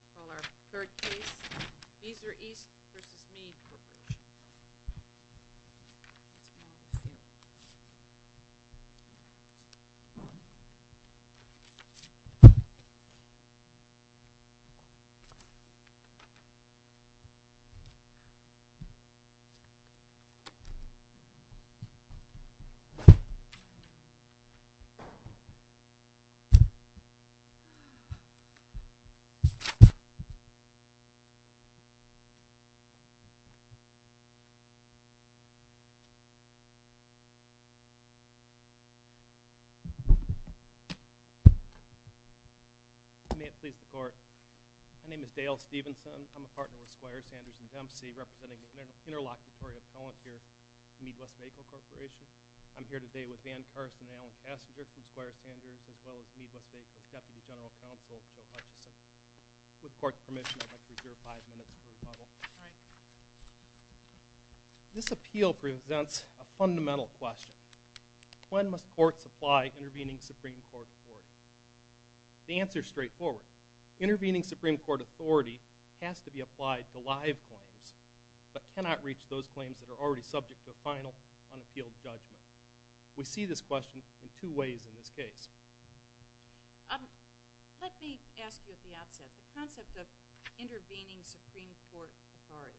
This is our third case, Beazer East v. Mead Corp. May it please the court, my name is Dale Stephenson. I'm a partner with Squire Sanders and Dempsey representing the interlocutory appellant here at the Mead West Vaco Corporation. I'm here today with Van Carson and Alan Kassinger from Squire Sanders as well as Mead West Vaco's deputy general counsel, Joe Hutchison. With court permission, I'd like to reserve five minutes for rebuttal. This appeal presents a fundamental question. When must courts apply intervening Supreme Court authority? The answer is straightforward. Intervening Supreme Court authority has to be applied to live claims but cannot reach those claims that are already there. Let me ask you at the outset the concept of intervening Supreme Court authority.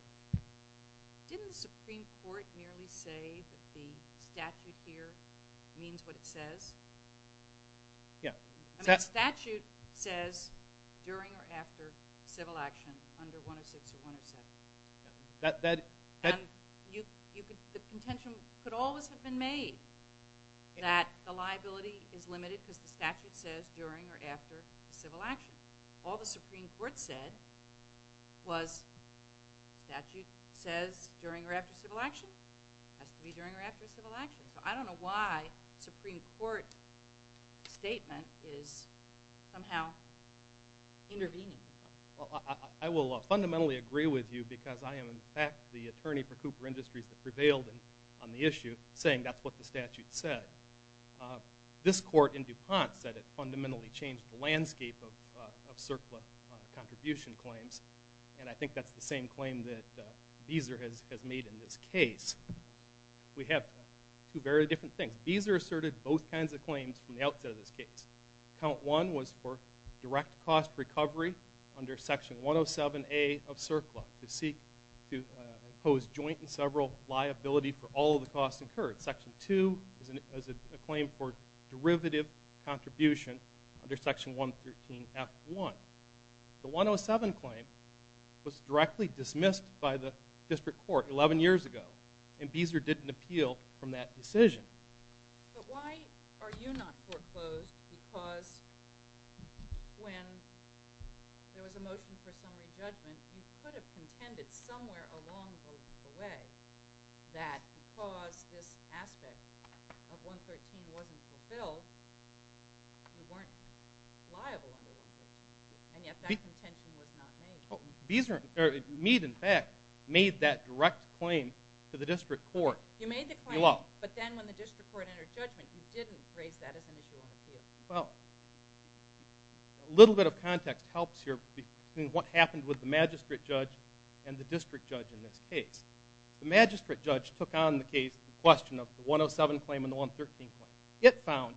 Didn't the Supreme Court merely say that the statute here means what it says? The statute says during or after civil action under 106 or 107. The contention could always have been made that the liability is limited because the statute says during or after civil action. All the Supreme Court said was statute says during or after civil action. It has to be during or after civil action. So I don't know why Supreme Court statement is somehow intervening. I will fundamentally agree with you because I am in fact the attorney for Cooper Industries that prevailed on the issue saying that's what the statute said. This court in DuPont said it fundamentally changed the landscape of CERCLA contribution claims and I think that's the same claim that Beezer has made in this case. We have two very different things. Beezer asserted both kinds of claims from the outset of this case. Count one was for direct cost recovery under section 107A of CERCLA to seek to pose joint and several liability for all the costs incurred. Section two is a claim for derivative contribution under section 113F1. The 107 claim was directly dismissed by the district court 11 years ago and Beezer didn't appeal from that decision. But why are you not foreclosed because when there was a motion for summary judgment you could have contended somewhere along the way that because this aspect of 113 wasn't fulfilled you weren't liable under 113 and yet that contention was not made. Meade in fact made that direct claim to the district court. You made the claim but then when the district court entered judgment you didn't raise that as an issue on appeal. Well, a little bit of context helps here between what happened with the magistrate judge and the district judge in this case. The magistrate judge took on the case the question of the 107 claim and the 113 claim. It found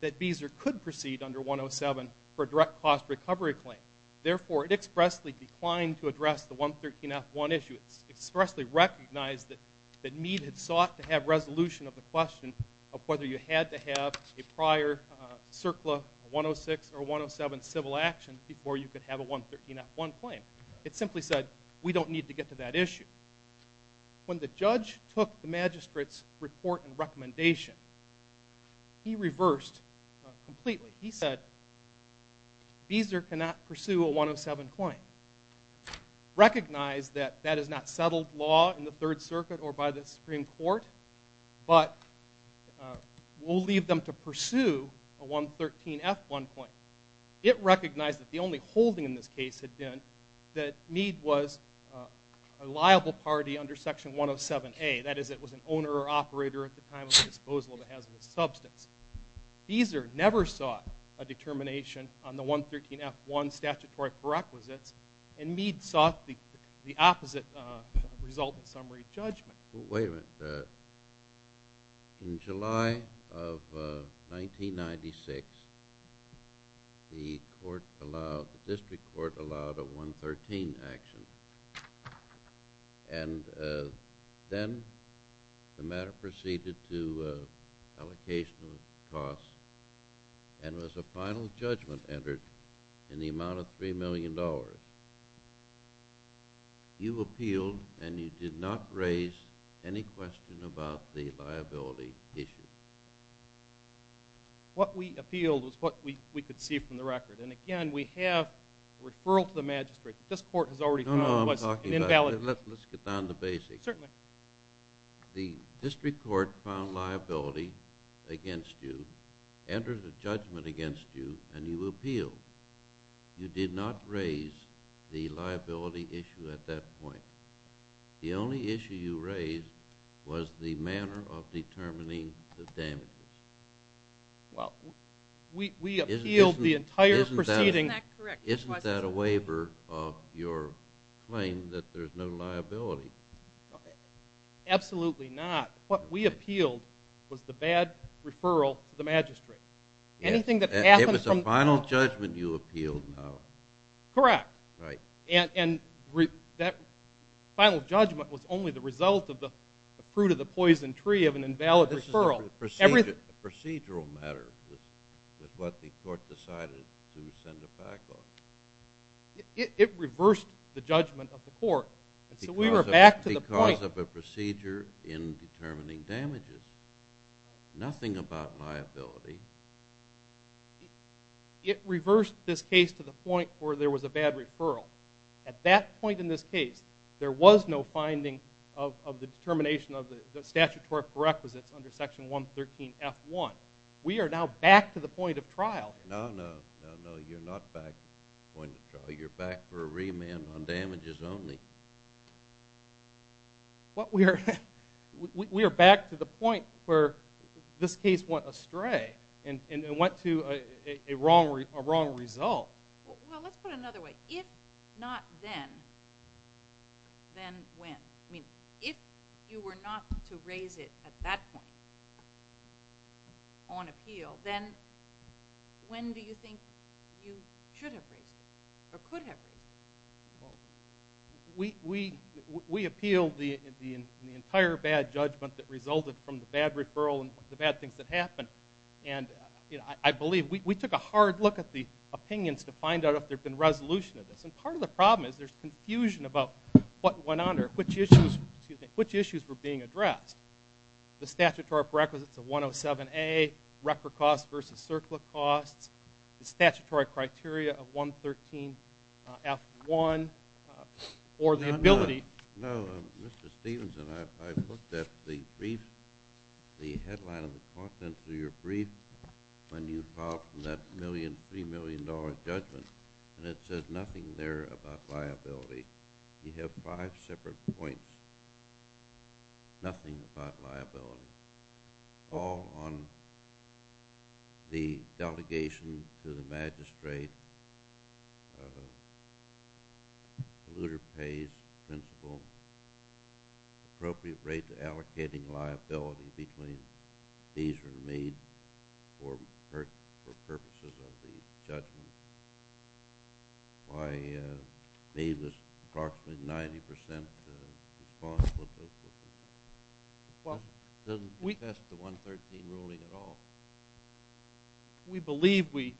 that Beezer could proceed under 107 for a direct cost recovery claim. Therefore it expressly declined to address the 113F1 issue. It expressly recognized that Beezer sought to have resolution of the question of whether you had to have a prior CERCLA 106 or 107 civil action before you could have a 113F1 claim. It simply said we don't need to get to that issue. When the judge took the magistrate's report and recommendation he reversed completely. He said Beezer cannot pursue a 107 claim. Recognized that that is not settled law in the 3rd circuit or by the Supreme Court but we'll leave them to pursue a 113F1 claim. It recognized that the only holding in this case had been that Meade was a liable party under section 107A. That is it was an owner or operator at the time of the disposal of a hazardous substance. Beezer never sought a determination on the 113F1 statutory prerequisites and Meade sought the opposite resultant summary judgment. Wait a minute. In July of 1996 the court allowed, the district court allowed a 113 action. And then the matter proceeded to allocation of costs and as a final judgment entered in the amount of $3 million you appealed and you did not raise any question about the liability issue. What we appealed was what we could see from the record and again we have a referral to the magistrate. This court has already found it was an invalid. No, no, I'm talking about, let's get down to the basics. Certainly. The district court found liability against you, entered a judgment against you and you appealed. You did not raise the liability issue at that point. The only issue you raised was the manner of determining the damages. Well, we appealed the entire proceeding. Isn't that correct? Isn't that a waiver of your claim that there's no liability? Absolutely not. What we appealed was the bad referral to the magistrate. It was a final judgment you appealed now. Correct. Right. And that final judgment was only the result of the fruit of the poison tree of an invalid referral. The procedural matter was what the court decided to send a fact off. It reversed the judgment of the court. Because of a procedure in determining damages. Nothing about liability. It reversed this case to the point where there was a bad referral. At that point in this case, there was no finding of the determination of the statutory prerequisites under Section 113F1. We are now back to the point of trial. No, no, you're not back to the point of trial. You're back for a remand on damages only. We are back to the point where this case went astray and went to a wrong result. Well, let's put it another way. If not then, then when? I mean, if you were not to raise it at that point on appeal, then when do you think you should have raised it or could have raised it? We appealed the entire bad judgment that resulted from the bad referral and the bad things that happened. And I believe we took a hard look at the opinions to find out if there had been resolution of this. And part of the problem is there's confusion about what went on or which issues were being addressed. The statutory prerequisites of 107A, record costs versus surplus costs, the statutory criteria of 113F1, or the ability. No, Mr. Stephenson, I looked at the brief, the headline of the content of your brief when you filed for that $3 million judgment, and it says nothing there about liability. You have five separate points. Nothing about liability. All on the delegation to the magistrate, polluter pays, principal, appropriate rates allocating liability between these and me for purposes of the judgment. I made this approximately 90% response. It doesn't contest the 113 ruling at all. We believe we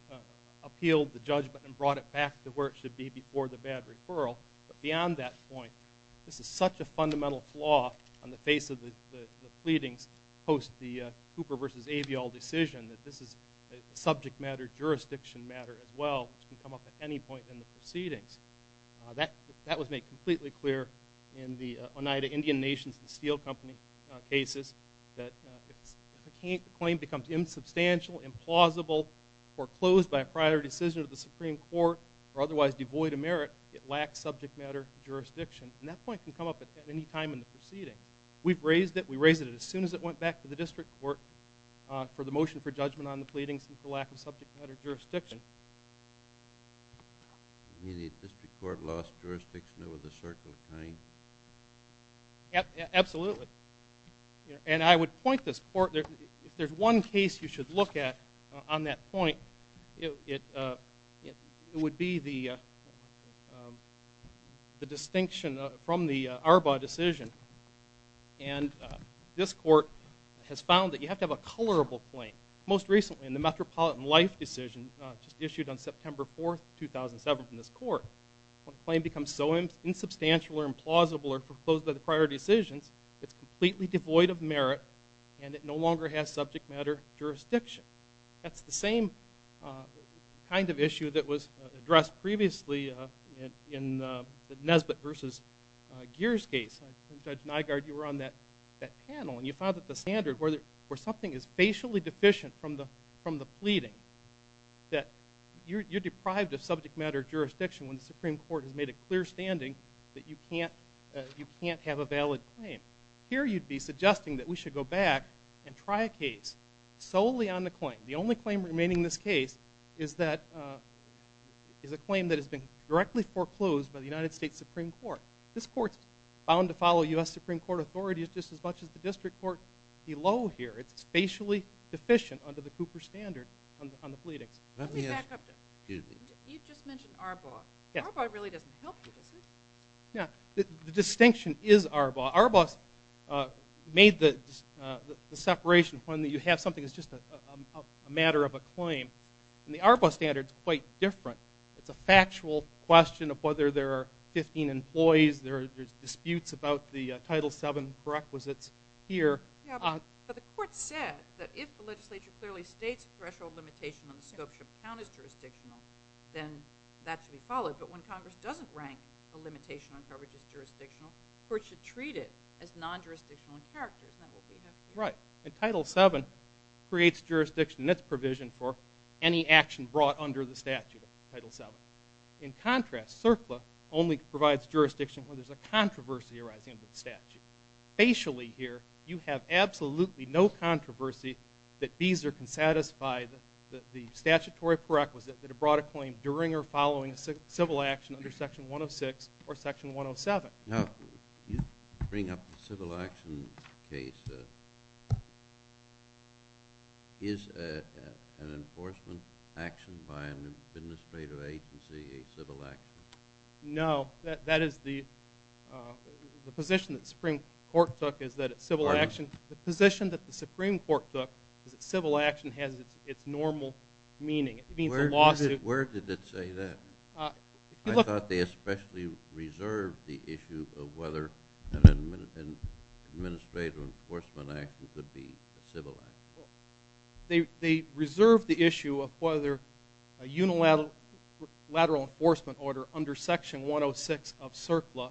appealed the judgment and brought it back to where it should be before the bad referral. But beyond that point, this is such a fundamental flaw on the face of the pleadings post the Cooper versus Aviol decision that this is a subject matter, jurisdiction matter as well, which can come up at any point in the proceedings. That was made completely clear in the Oneida Indian Nations and Steel Company cases, that if a claim becomes insubstantial, implausible, foreclosed by a prior decision of the Supreme Court, or otherwise devoid of merit, it lacks subject matter and jurisdiction. And that point can come up at any time in the proceeding. We've raised it. We raised it as soon as it went back to the district court for the motion for judgment on the pleadings and for lack of subject matter and jurisdiction. Absolutely. And I would point this court, if there's one case you should look at on that point, it would be the distinction from the Arbaugh decision. And this court has found that you have to have a colorable claim. Most recently in the Metropolitan Life decision, just issued on September 4, 2007 from this court, when a claim becomes so insubstantial or implausible or foreclosed by the prior decisions, it's completely devoid of merit and it no longer has subject matter and jurisdiction. That's the same kind of issue that was addressed previously in the Nesbitt v. Geers case. Judge Nygaard, you were on that panel, and you found that the standard, where something is facially deficient from the pleading, that you're deprived of subject matter and jurisdiction when the Supreme Court has made a clear standing that you can't have a valid claim. Here you'd be suggesting that we should go back and try a case solely on the claim. The only claim remaining in this case is a claim that has been directly foreclosed by the United States Supreme Court. This court's bound to follow U.S. Supreme Court authorities just as much as the district court below here. It's facially deficient under the Cooper standard on the pleadings. Let me back up. You just mentioned Arbaugh. Arbaugh really doesn't help you, does he? Yeah. The distinction is Arbaugh. Arbaugh made the separation when you have something that's just a matter of a claim. The Arbaugh standard is quite different. It's a factual question of whether there are 15 employees. There are disputes about the Title VII prerequisites here. Yeah, but the court said that if the legislature clearly states a threshold limitation on the scope, should count as jurisdictional, then that should be followed. But when Congress doesn't rank a limitation on coverage as jurisdictional, the court should treat it as non-jurisdictional in character. Right. And Title VII creates jurisdiction in its provision for any action brought under the statute of Title VII. In contrast, CERCLA only provides jurisdiction when there's a controversy arising under the statute. Facially here, you have absolutely no controversy that these can satisfy the statutory prerequisite that have brought a claim during or following a civil action under Section 106 or Section 107. Now, you bring up the civil action case. Is an enforcement action by an administrative agency a civil action? No. That is the position that the Supreme Court took is that it's civil action. The position that the Supreme Court took is that civil action has its normal meaning. It means a lawsuit. Where did it say that? I thought they especially reserved the issue of whether an administrative enforcement action could be a civil action. They reserved the issue of whether a unilateral enforcement order under Section 106 of CERCLA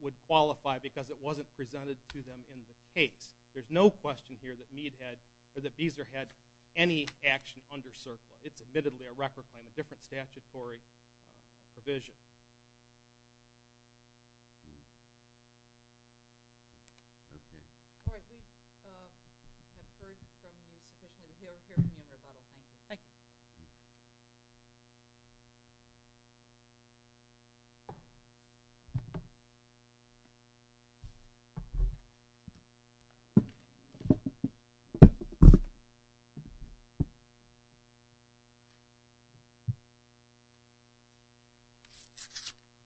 would qualify because it wasn't presented to them in the case. There's no question here that Mead had or that Beezer had any action under CERCLA. It's admittedly a record claim, a different statutory provision. Okay. All right. We have heard from you sufficiently here in the rebuttal. Thank you. Thank you.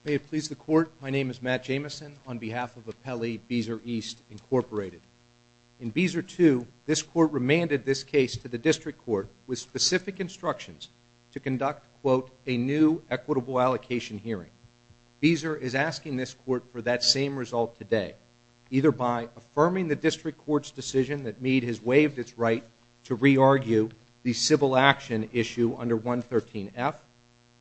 May it please the court, my name is Matt Jamieson on behalf of Apelli Beezer East Incorporated. In Beezer 2, this court remanded this case to the district court with specific instructions to conduct, quote, a new equitable allocation hearing. Beezer is asking this court for that same result today, either by affirming the district court's decision that Mead has waived its right to re-argue the civil action issue under 113F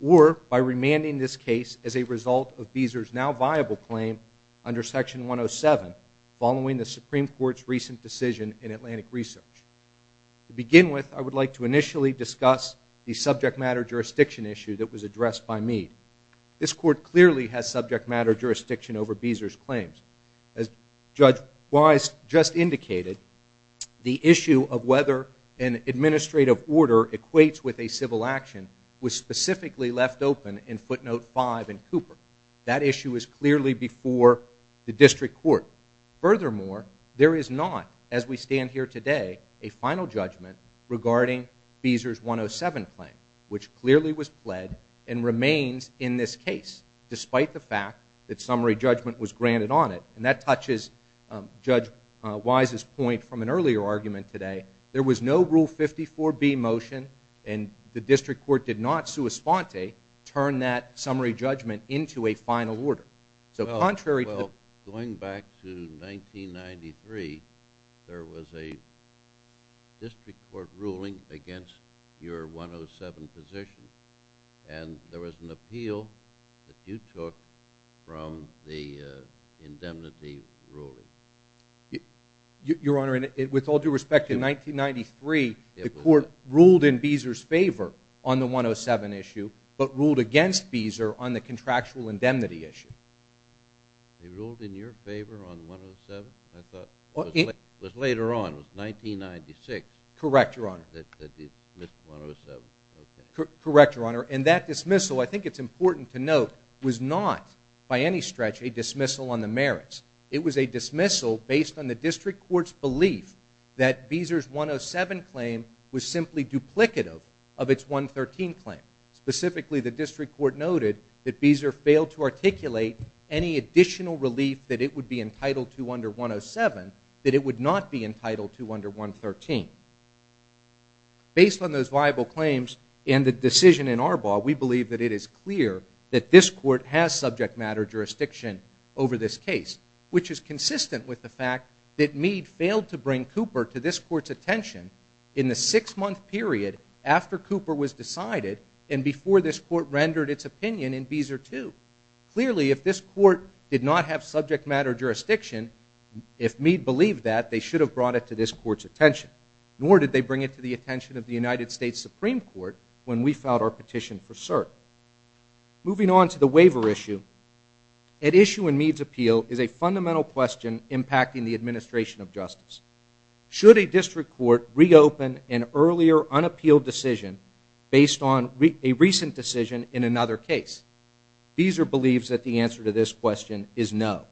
or by remanding this case as a result of Beezer's now viable claim under Section 107, following the Supreme Court's recent decision in Atlantic Research. To begin with, I would like to initially discuss the subject matter jurisdiction issue that was addressed by Mead. This court clearly has subject matter jurisdiction over Beezer's claims. As Judge Wise just indicated, the issue of whether an administrative order equates with a civil action was specifically left open in footnote 5 in Cooper. That issue is clearly before the district court. Furthermore, there is not, as we stand here today, a final judgment regarding Beezer's 107 claim, which clearly was pled and remains in this case, despite the fact that summary judgment was granted on it. And that touches Judge Wise's point from an earlier argument today. There was no Rule 54B motion, and the district court did not sua sponte turn that summary judgment into a final order. Going back to 1993, there was a district court ruling against your 107 position, and there was an appeal that you took from the indemnity ruling. Your Honor, with all due respect, in 1993, the court ruled in Beezer's favor on the 107 issue, but ruled against Beezer on the contractual indemnity issue. They ruled in your favor on 107? I thought it was later on. It was 1996. Correct, Your Honor. That they dismissed 107. Correct, Your Honor. And that dismissal, I think it's important to note, was not, by any stretch, a dismissal on the merits. It was a dismissal based on the district court's belief that Beezer's 107 claim was simply duplicative of its 113 claim. Specifically, the district court noted that Beezer failed to articulate any additional relief that it would be entitled to under 107 that it would not be entitled to under 113. Based on those viable claims and the decision in Arbaugh, we believe that it is clear that this court has subject matter jurisdiction over this case, which is consistent with the fact that Mead failed to bring Cooper to this court's attention in the six-month period after Cooper was decided and before this court rendered its opinion in Beezer 2. Clearly, if this court did not have subject matter jurisdiction, if Mead believed that, they should have brought it to this court's attention. Nor did they bring it to the attention of the United States Supreme Court when we filed our petition for cert. Moving on to the waiver issue, an issue in Mead's appeal is a fundamental question impacting the administration of justice. Should a district court reopen an earlier unappealed decision based on a recent decision in another case? Beezer believes that the answer to this question is no.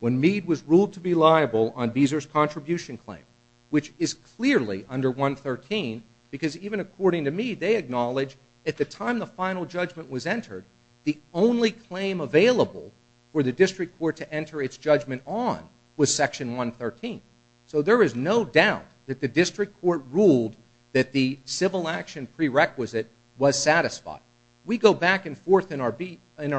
When Mead was ruled to be liable on Beezer's contribution claim, which is clearly under 113, because even according to Mead, they acknowledge at the time the final judgment was entered, the only claim available for the district court to enter its judgment on was section 113. So there is no doubt that the district court ruled that the civil action prerequisite was satisfied. We go back and forth in our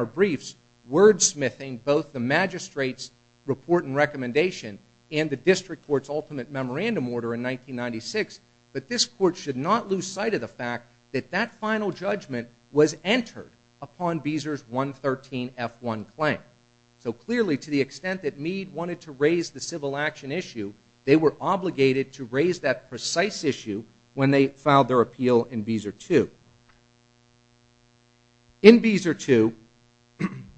briefs wordsmithing both the magistrate's report and recommendation and the district court's ultimate memorandum order in 1996, but this court should not lose sight of the fact that that final judgment was entered upon Beezer's 113-F1 claim. So clearly, to the extent that Mead wanted to raise the civil action issue, they were obligated to raise that precise issue when they filed their appeal in Beezer 2. In Beezer 2,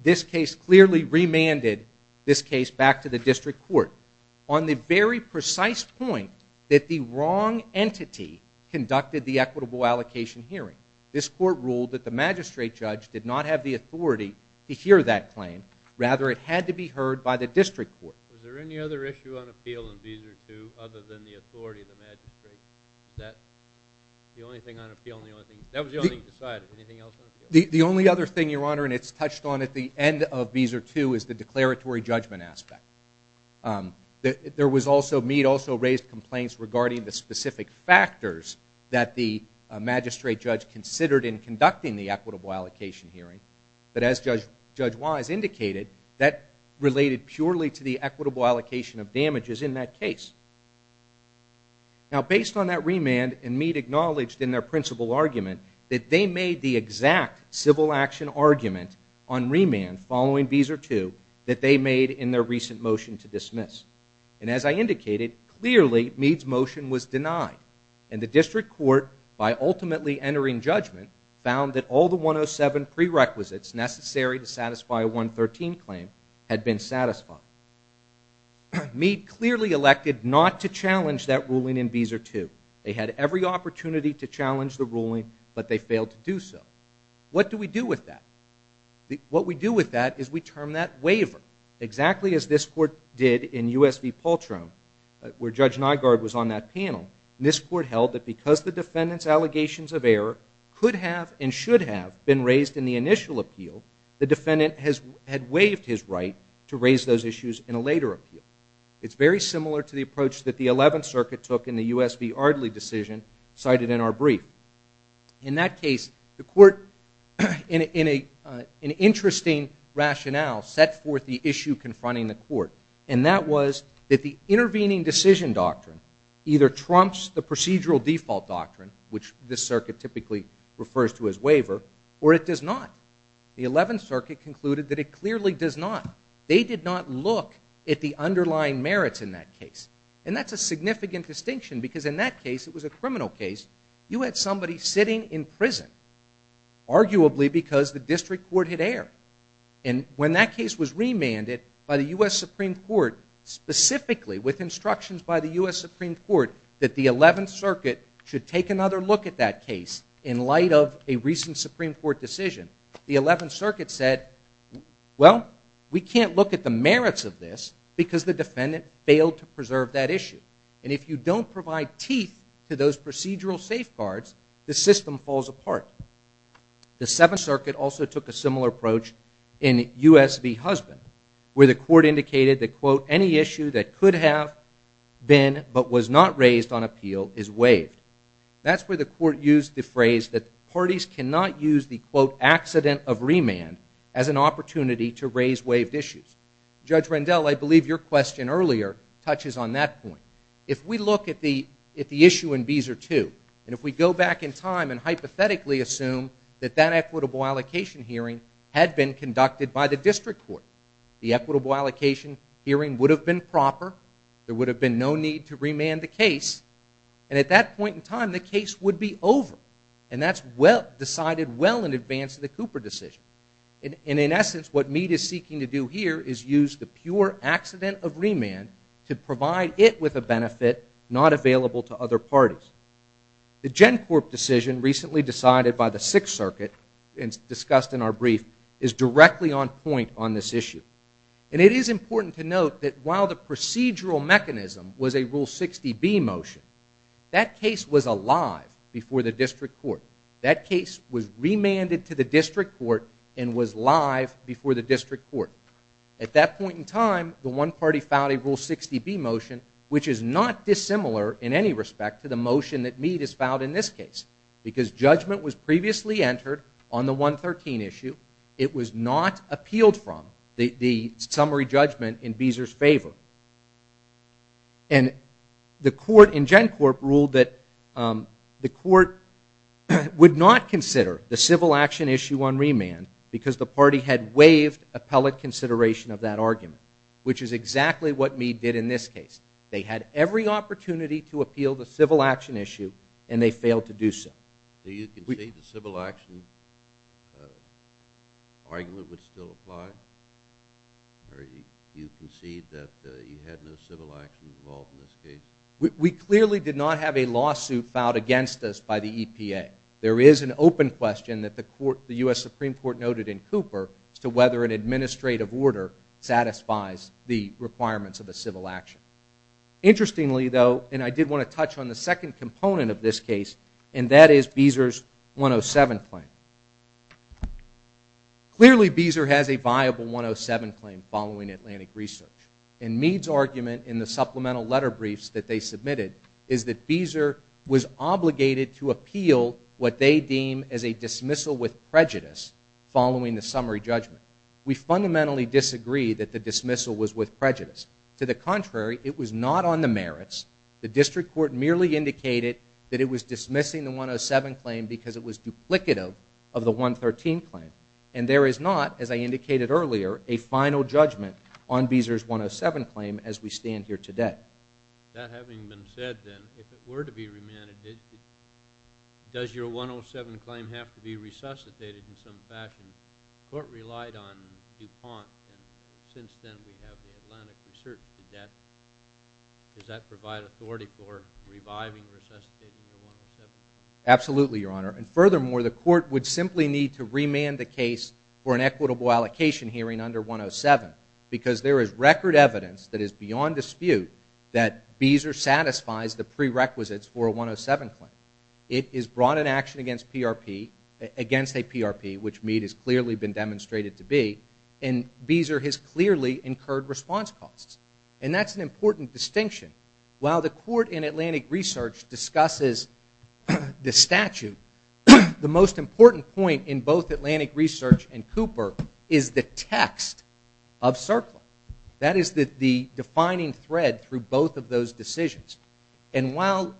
this case clearly remanded this case back to the district court on the very precise point that the wrong entity conducted the equitable allocation hearing. This court ruled that the magistrate judge did not have the authority to hear that claim. Rather, it had to be heard by the district court. Was there any other issue on appeal in Beezer 2 other than the authority of the magistrate? Is that the only thing on appeal? That was the only thing decided. Anything else on appeal? The only other thing, Your Honor, and it's touched on at the end of Beezer 2, is the declaratory judgment aspect. Mead also raised complaints regarding the specific factors that the magistrate judge considered in conducting the equitable allocation hearing. But as Judge Wise indicated, that related purely to the equitable allocation of damages in that case. Now, based on that remand, and Mead acknowledged in their principal argument that they made the exact civil action argument on remand following Beezer 2 that they made in their recent motion to dismiss. And as I indicated, clearly Mead's motion was denied. And the district court, by ultimately entering judgment, found that all the 107 prerequisites necessary to satisfy a 113 claim had been satisfied. Mead clearly elected not to challenge that ruling in Beezer 2. They had every opportunity to challenge the ruling, but they failed to do so. What do we do with that? What we do with that is we term that waiver, exactly as this court did in U.S. v. Paltrow, where Judge Nygaard was on that panel. This court held that because the defendant's allegations of error could have and should have been raised in the initial appeal, the defendant had waived his right to raise those issues in a later appeal. It's very similar to the approach that the 11th Circuit took in the U.S. v. Ardley decision cited in our brief. In that case, the court, in an interesting rationale, set forth the issue confronting the court, and that was that the intervening decision doctrine either trumps the procedural default doctrine, which this circuit typically refers to as waiver, or it does not. The 11th Circuit concluded that it clearly does not. They did not look at the underlying merits in that case. And that's a significant distinction because in that case, it was a criminal case. You had somebody sitting in prison, arguably because the district court had erred. And when that case was remanded by the U.S. Supreme Court, specifically with instructions by the U.S. Supreme Court that the 11th Circuit should take another look at that case in light of a recent Supreme Court decision, the 11th Circuit said, well, we can't look at the merits of this because the defendant failed to preserve that issue. And if you don't provide teeth to those procedural safeguards, the system falls apart. The 7th Circuit also took a similar approach in U.S. v. Husband, where the court indicated that, quote, any issue that could have been but was not raised on appeal is waived. That's where the court used the phrase that parties cannot use the, quote, accident of remand as an opportunity to raise waived issues. Judge Rendell, I believe your question earlier touches on that point. If we look at the issue in Beezer 2, and if we go back in time and hypothetically assume that that equitable allocation hearing had been conducted by the district court, the equitable allocation hearing would have been proper, there would have been no need to remand the case, and at that point in time, the case would be over. And that's decided well in advance of the Cooper decision. And in essence, what Meade is seeking to do here is use the pure accident of remand to provide it with a benefit not available to other parties. The GenCorp decision recently decided by the 6th Circuit, and it's discussed in our brief, is directly on point on this issue. And it is important to note that while the procedural mechanism was a Rule 60B motion, that case was alive before the district court. That case was remanded to the district court and was live before the district court. At that point in time, the one party filed a Rule 60B motion, which is not dissimilar in any respect to the motion that Meade has filed in this case, because judgment was previously entered on the 113 issue. It was not appealed from, the summary judgment in Beezer's favor. And the court in GenCorp ruled that the court would not consider the civil action issue on remand because the party had waived appellate consideration of that argument, which is exactly what Meade did in this case. They had every opportunity to appeal the civil action issue, and they failed to do so. Do you concede the civil action argument would still apply? Or do you concede that you had no civil action involved in this case? We clearly did not have a lawsuit filed against us by the EPA. There is an open question that the U.S. Supreme Court noted in Cooper as to whether an administrative order satisfies the requirements of a civil action. Interestingly, though, and I did want to touch on the second component of this case, and that is Beezer's 107 claim. Clearly, Beezer has a viable 107 claim following Atlantic Research. And Meade's argument in the supplemental letter briefs that they submitted is that Beezer was obligated to appeal what they deem as a dismissal with prejudice following the summary judgment. We fundamentally disagree that the dismissal was with prejudice. To the contrary, it was not on the merits. The district court merely indicated that it was dismissing the 107 claim because it was duplicative of the 113 claim. And there is not, as I indicated earlier, a final judgment on Beezer's 107 claim as we stand here today. That having been said, then, if it were to be remanded, does your 107 claim have to be resuscitated in some fashion? The court relied on DuPont, and since then we have the Atlantic Research. Does that provide authority for reviving or resuscitating the 107 claim? Absolutely, Your Honor. And furthermore, the court would simply need to remand the case for an equitable allocation hearing under 107 because there is record evidence that is beyond dispute that Beezer satisfies the prerequisites for a 107 claim. It is brought in action against PRP, against a PRP, which Meade has clearly been demonstrated to be, and Beezer has clearly incurred response costs. And that's an important distinction. While the court in Atlantic Research discusses the statute, the most important point in both Atlantic Research and Cooper is the text of CERCLA. That is the defining thread through both of those decisions. And while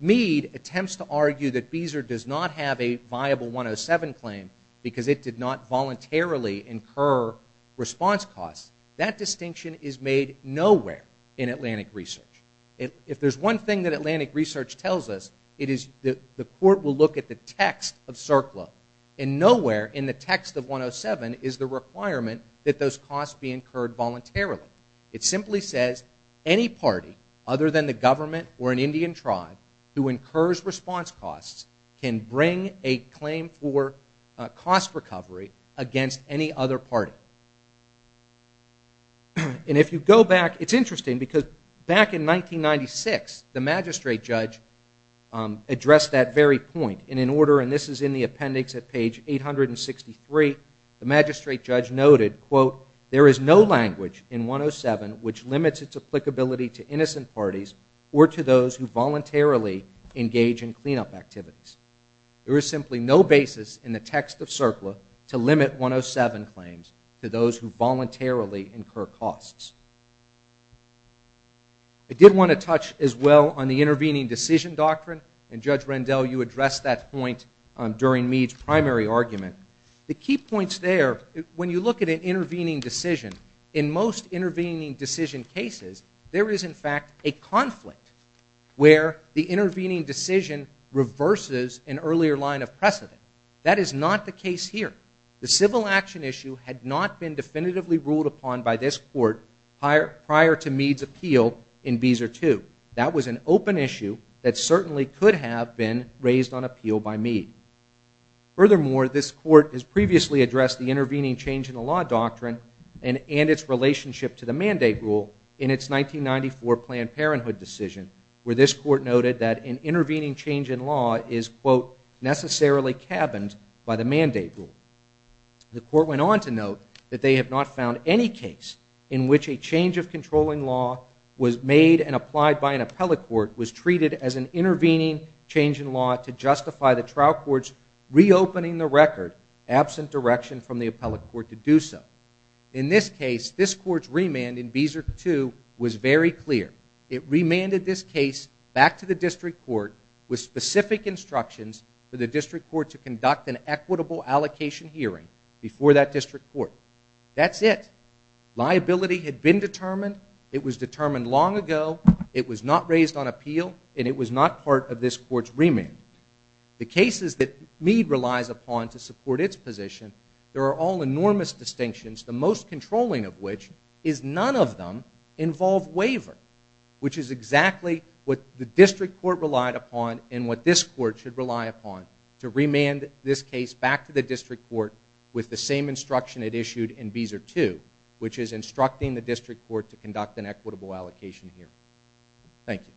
Meade attempts to argue that Beezer does not have a viable 107 claim because it did not voluntarily incur response costs, that distinction is made nowhere in Atlantic Research. If there's one thing that Atlantic Research tells us, it is the court will look at the text of CERCLA, and nowhere in the text of 107 is the requirement that those costs be incurred voluntarily. It simply says any party, other than the government or an Indian tribe, who incurs response costs can bring a claim for cost recovery against any other party. And if you go back, it's interesting because back in 1996, the magistrate judge addressed that very point. And in order, and this is in the appendix at page 863, the magistrate judge noted, quote, there is no language in 107 which limits its applicability to innocent parties or to those who voluntarily engage in cleanup activities. There is simply no basis in the text of CERCLA to limit 107 claims to those who voluntarily incur costs. I did want to touch as well on the intervening decision doctrine, and Judge Rendell, you addressed that point during Meade's primary argument. The key points there, when you look at an intervening decision, where the intervening decision reverses an earlier line of precedent. That is not the case here. The civil action issue had not been definitively ruled upon by this court prior to Meade's appeal in Visa II. That was an open issue that certainly could have been raised on appeal by Meade. Furthermore, this court has previously addressed the intervening change in the law doctrine and its relationship to the mandate rule in its 1994 Planned Parenthood decision, where this court noted that an intervening change in law is, quote, necessarily cabined by the mandate rule. The court went on to note that they have not found any case in which a change of controlling law was made and applied by an appellate court was treated as an intervening change in law to justify the trial court's absent direction from the appellate court to do so. In this case, this court's remand in Visa II was very clear. It remanded this case back to the district court with specific instructions for the district court to conduct an equitable allocation hearing before that district court. That's it. Liability had been determined. It was determined long ago. It was not raised on appeal, and it was not part of this court's remand. The cases that Meade relies upon to support its position, there are all enormous distinctions, the most controlling of which is none of them involve waiver, which is exactly what the district court relied upon and what this court should rely upon to remand this case back to the district court with the same instruction it issued in Visa II, which is instructing the district court to conduct an equitable allocation hearing. Thank you.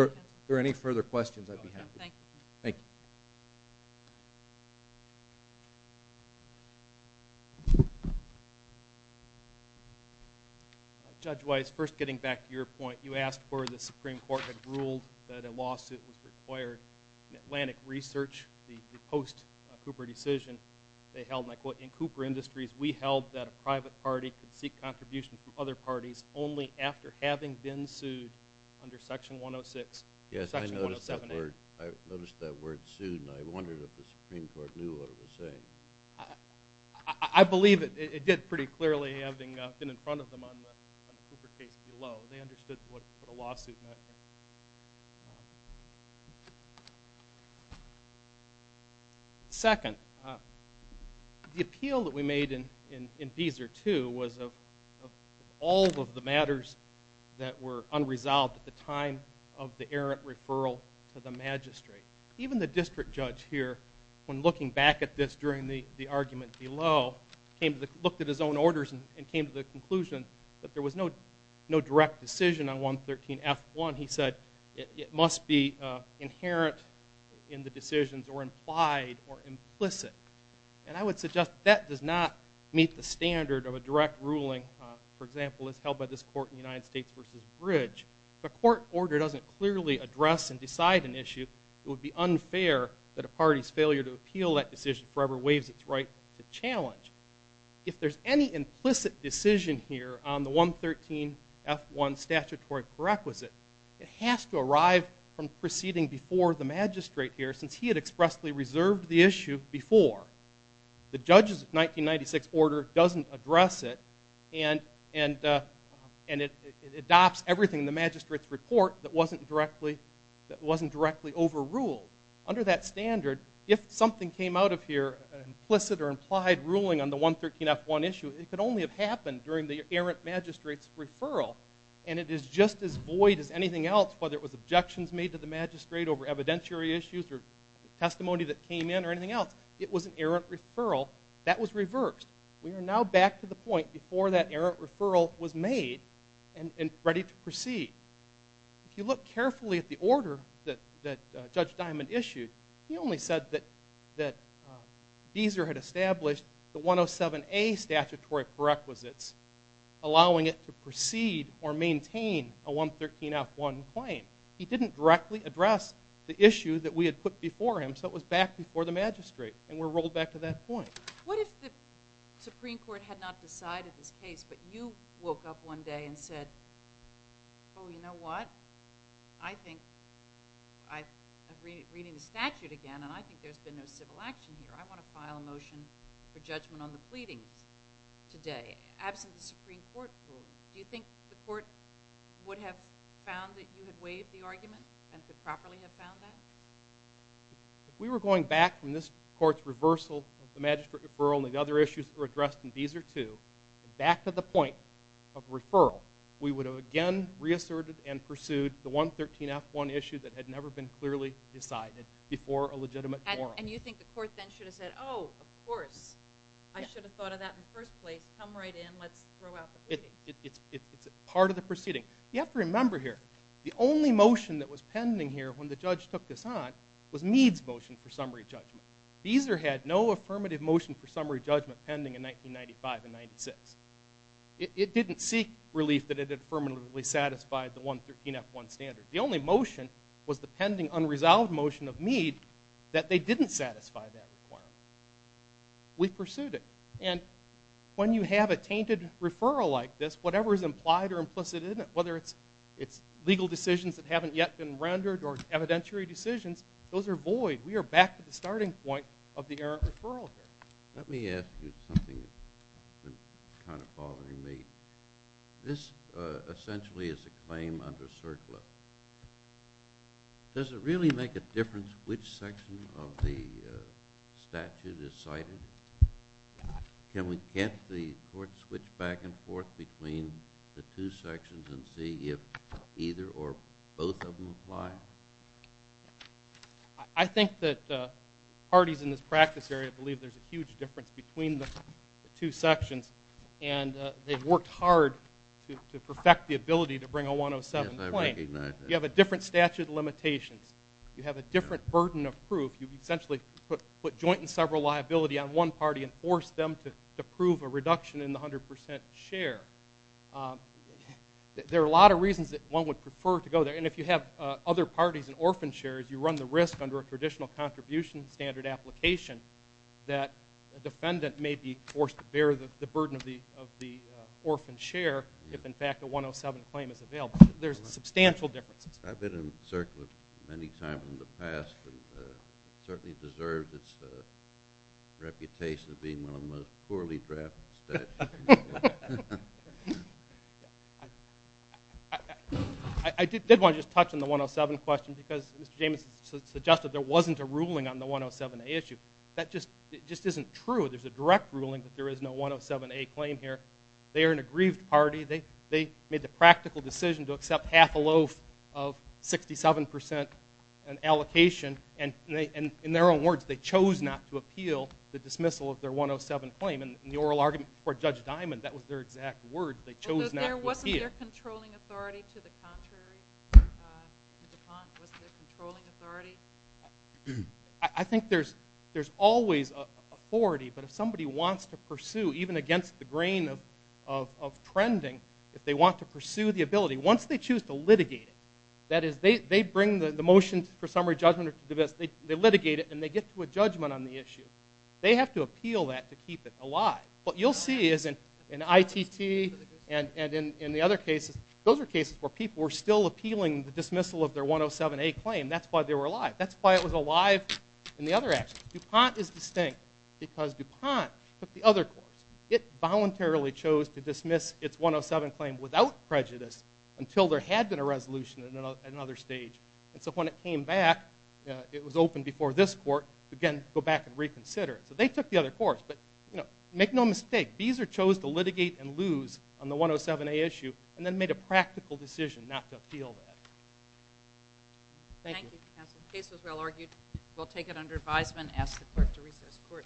If there are any further questions, I'd be happy. Thank you. Judge Weiss, first getting back to your point, you asked where the Supreme Court had ruled that a lawsuit was required. In Atlantic Research, the post-Cooper decision, they held, and I quote, in Cooper Industries, we held that a private party could seek contribution from other parties only after having been sued under Section 106 or Section 107A. Yes, I noticed that word sued, and I wondered if the Supreme Court knew what it was saying. I believe it did pretty clearly having been in front of them on the Cooper case below. They understood what a lawsuit meant. Okay. Second, the appeal that we made in Visa II was of all of the matters that were unresolved at the time of the errant referral to the magistrate. Even the district judge here, when looking back at this during the argument below, looked at his own orders and came to the conclusion that there was no direct decision on 113F1. He said it must be inherent in the decisions or implied or implicit. And I would suggest that does not meet the standard of a direct ruling, for example, as held by this court in the United States versus Bridge. If a court order doesn't clearly address and decide an issue, it would be unfair that a party's failure to appeal that decision forever waives its right to challenge. If there's any implicit decision here on the 113F1 statutory prerequisite, it has to arrive from proceeding before the magistrate here, since he had expressly reserved the issue before. The judge's 1996 order doesn't address it, and it adopts everything in the magistrate's report that wasn't directly overruled. Under that standard, if something came out of here, an implicit or implied ruling on the 113F1 issue, it could only have happened during the errant magistrate's referral. And it is just as void as anything else, whether it was objections made to the magistrate over evidentiary issues or testimony that came in or anything else. It was an errant referral. That was reversed. We are now back to the point before that errant referral was made and ready to proceed. If you look carefully at the order that Judge Diamond issued, he only said that Deeser had established the 107A statutory prerequisites, allowing it to proceed or maintain a 113F1 claim. He didn't directly address the issue that we had put before him, so it was back before the magistrate, and we're rolled back to that point. What if the Supreme Court had not decided this case, but you woke up one day and said, oh, you know what, I think I'm reading the statute again, and I think there's been no civil action here. I want to file a motion for judgment on the pleadings today, absent the Supreme Court ruling. Do you think the court would have found that you had waived the argument and could properly have found that? If we were going back from this court's reversal of the magistrate referral and the other issues that were addressed in Deeser II, back to the point of referral, we would have again reasserted and pursued the 113F1 issue that had never been clearly decided before a legitimate moral. And you think the court then should have said, oh, of course, I should have thought of that in the first place. Come right in, let's throw out the pleading. It's part of the proceeding. You have to remember here, the only motion that was pending here when the judge took this on was Meade's motion for summary judgment. Deeser had no affirmative motion for summary judgment pending in 1995 and 1996. It didn't seek relief that it had permanently satisfied the 113F1 standard. The only motion was the pending unresolved motion of Meade that they didn't satisfy that requirement. We pursued it. And when you have a tainted referral like this, whatever is implied or implicit in it, whether it's legal decisions that haven't yet been rendered or evidentiary decisions, those are void. We are back to the starting point of the errant referral here. Let me ask you something that's been kind of bothering me. This essentially is a claim under surplus. Does it really make a difference which section of the statute is cited? Can we get the court to switch back and forth between the two sections and see if either or both of them apply? I think that parties in this practice area believe there's a huge difference between the two sections, and they've worked hard to perfect the ability to bring a 107 claim. Yes, I recognize that. You have a different statute of limitations. You have a different burden of proof. You essentially put joint and several liability on one party and forced them to approve a reduction in the 100 percent share. There are a lot of reasons that one would prefer to go there, and if you have other parties in orphan shares, you run the risk under a traditional contribution standard application that a defendant may be forced to bear the burden of the orphan share if, in fact, a 107 claim is available. There's substantial differences. I've been in the circuit many times in the past and it certainly deserves its reputation of being one of the most poorly drafted statutes. I did want to just touch on the 107 question because Mr. Jameson suggested there wasn't a ruling on the 107A issue. That just isn't true. There's a direct ruling that there is no 107A claim here. They are an aggrieved party. They made the practical decision to accept half a loaf of 67 percent allocation, and in their own words, they chose not to appeal the dismissal of their 107 claim. In the oral argument before Judge Diamond, that was their exact word. They chose not to appeal. Wasn't there controlling authority to the contrary? Wasn't there controlling authority? I think there's always authority, but if somebody wants to pursue even against the grain of trending, if they want to pursue the ability, once they choose to litigate it, that is, they bring the motion for summary judgment, they litigate it and they get to a judgment on the issue. They have to appeal that to keep it alive. What you'll see is in ITT and in the other cases, those are cases where people were still appealing the dismissal of their 107A claim. That's why they were alive. That's why it was alive in the other actions. DuPont is distinct because DuPont took the other course. It voluntarily chose to dismiss its 107 claim without prejudice until there had been a resolution at another stage. When it came back, it was open before this court to go back and reconsider. They took the other course. Make no mistake. Beezer chose to litigate and lose on the 107A issue and then made a practical decision not to appeal that. Thank you. Thank you, counsel. The case was well argued. We'll take it under advisement and ask the clerk to recess court.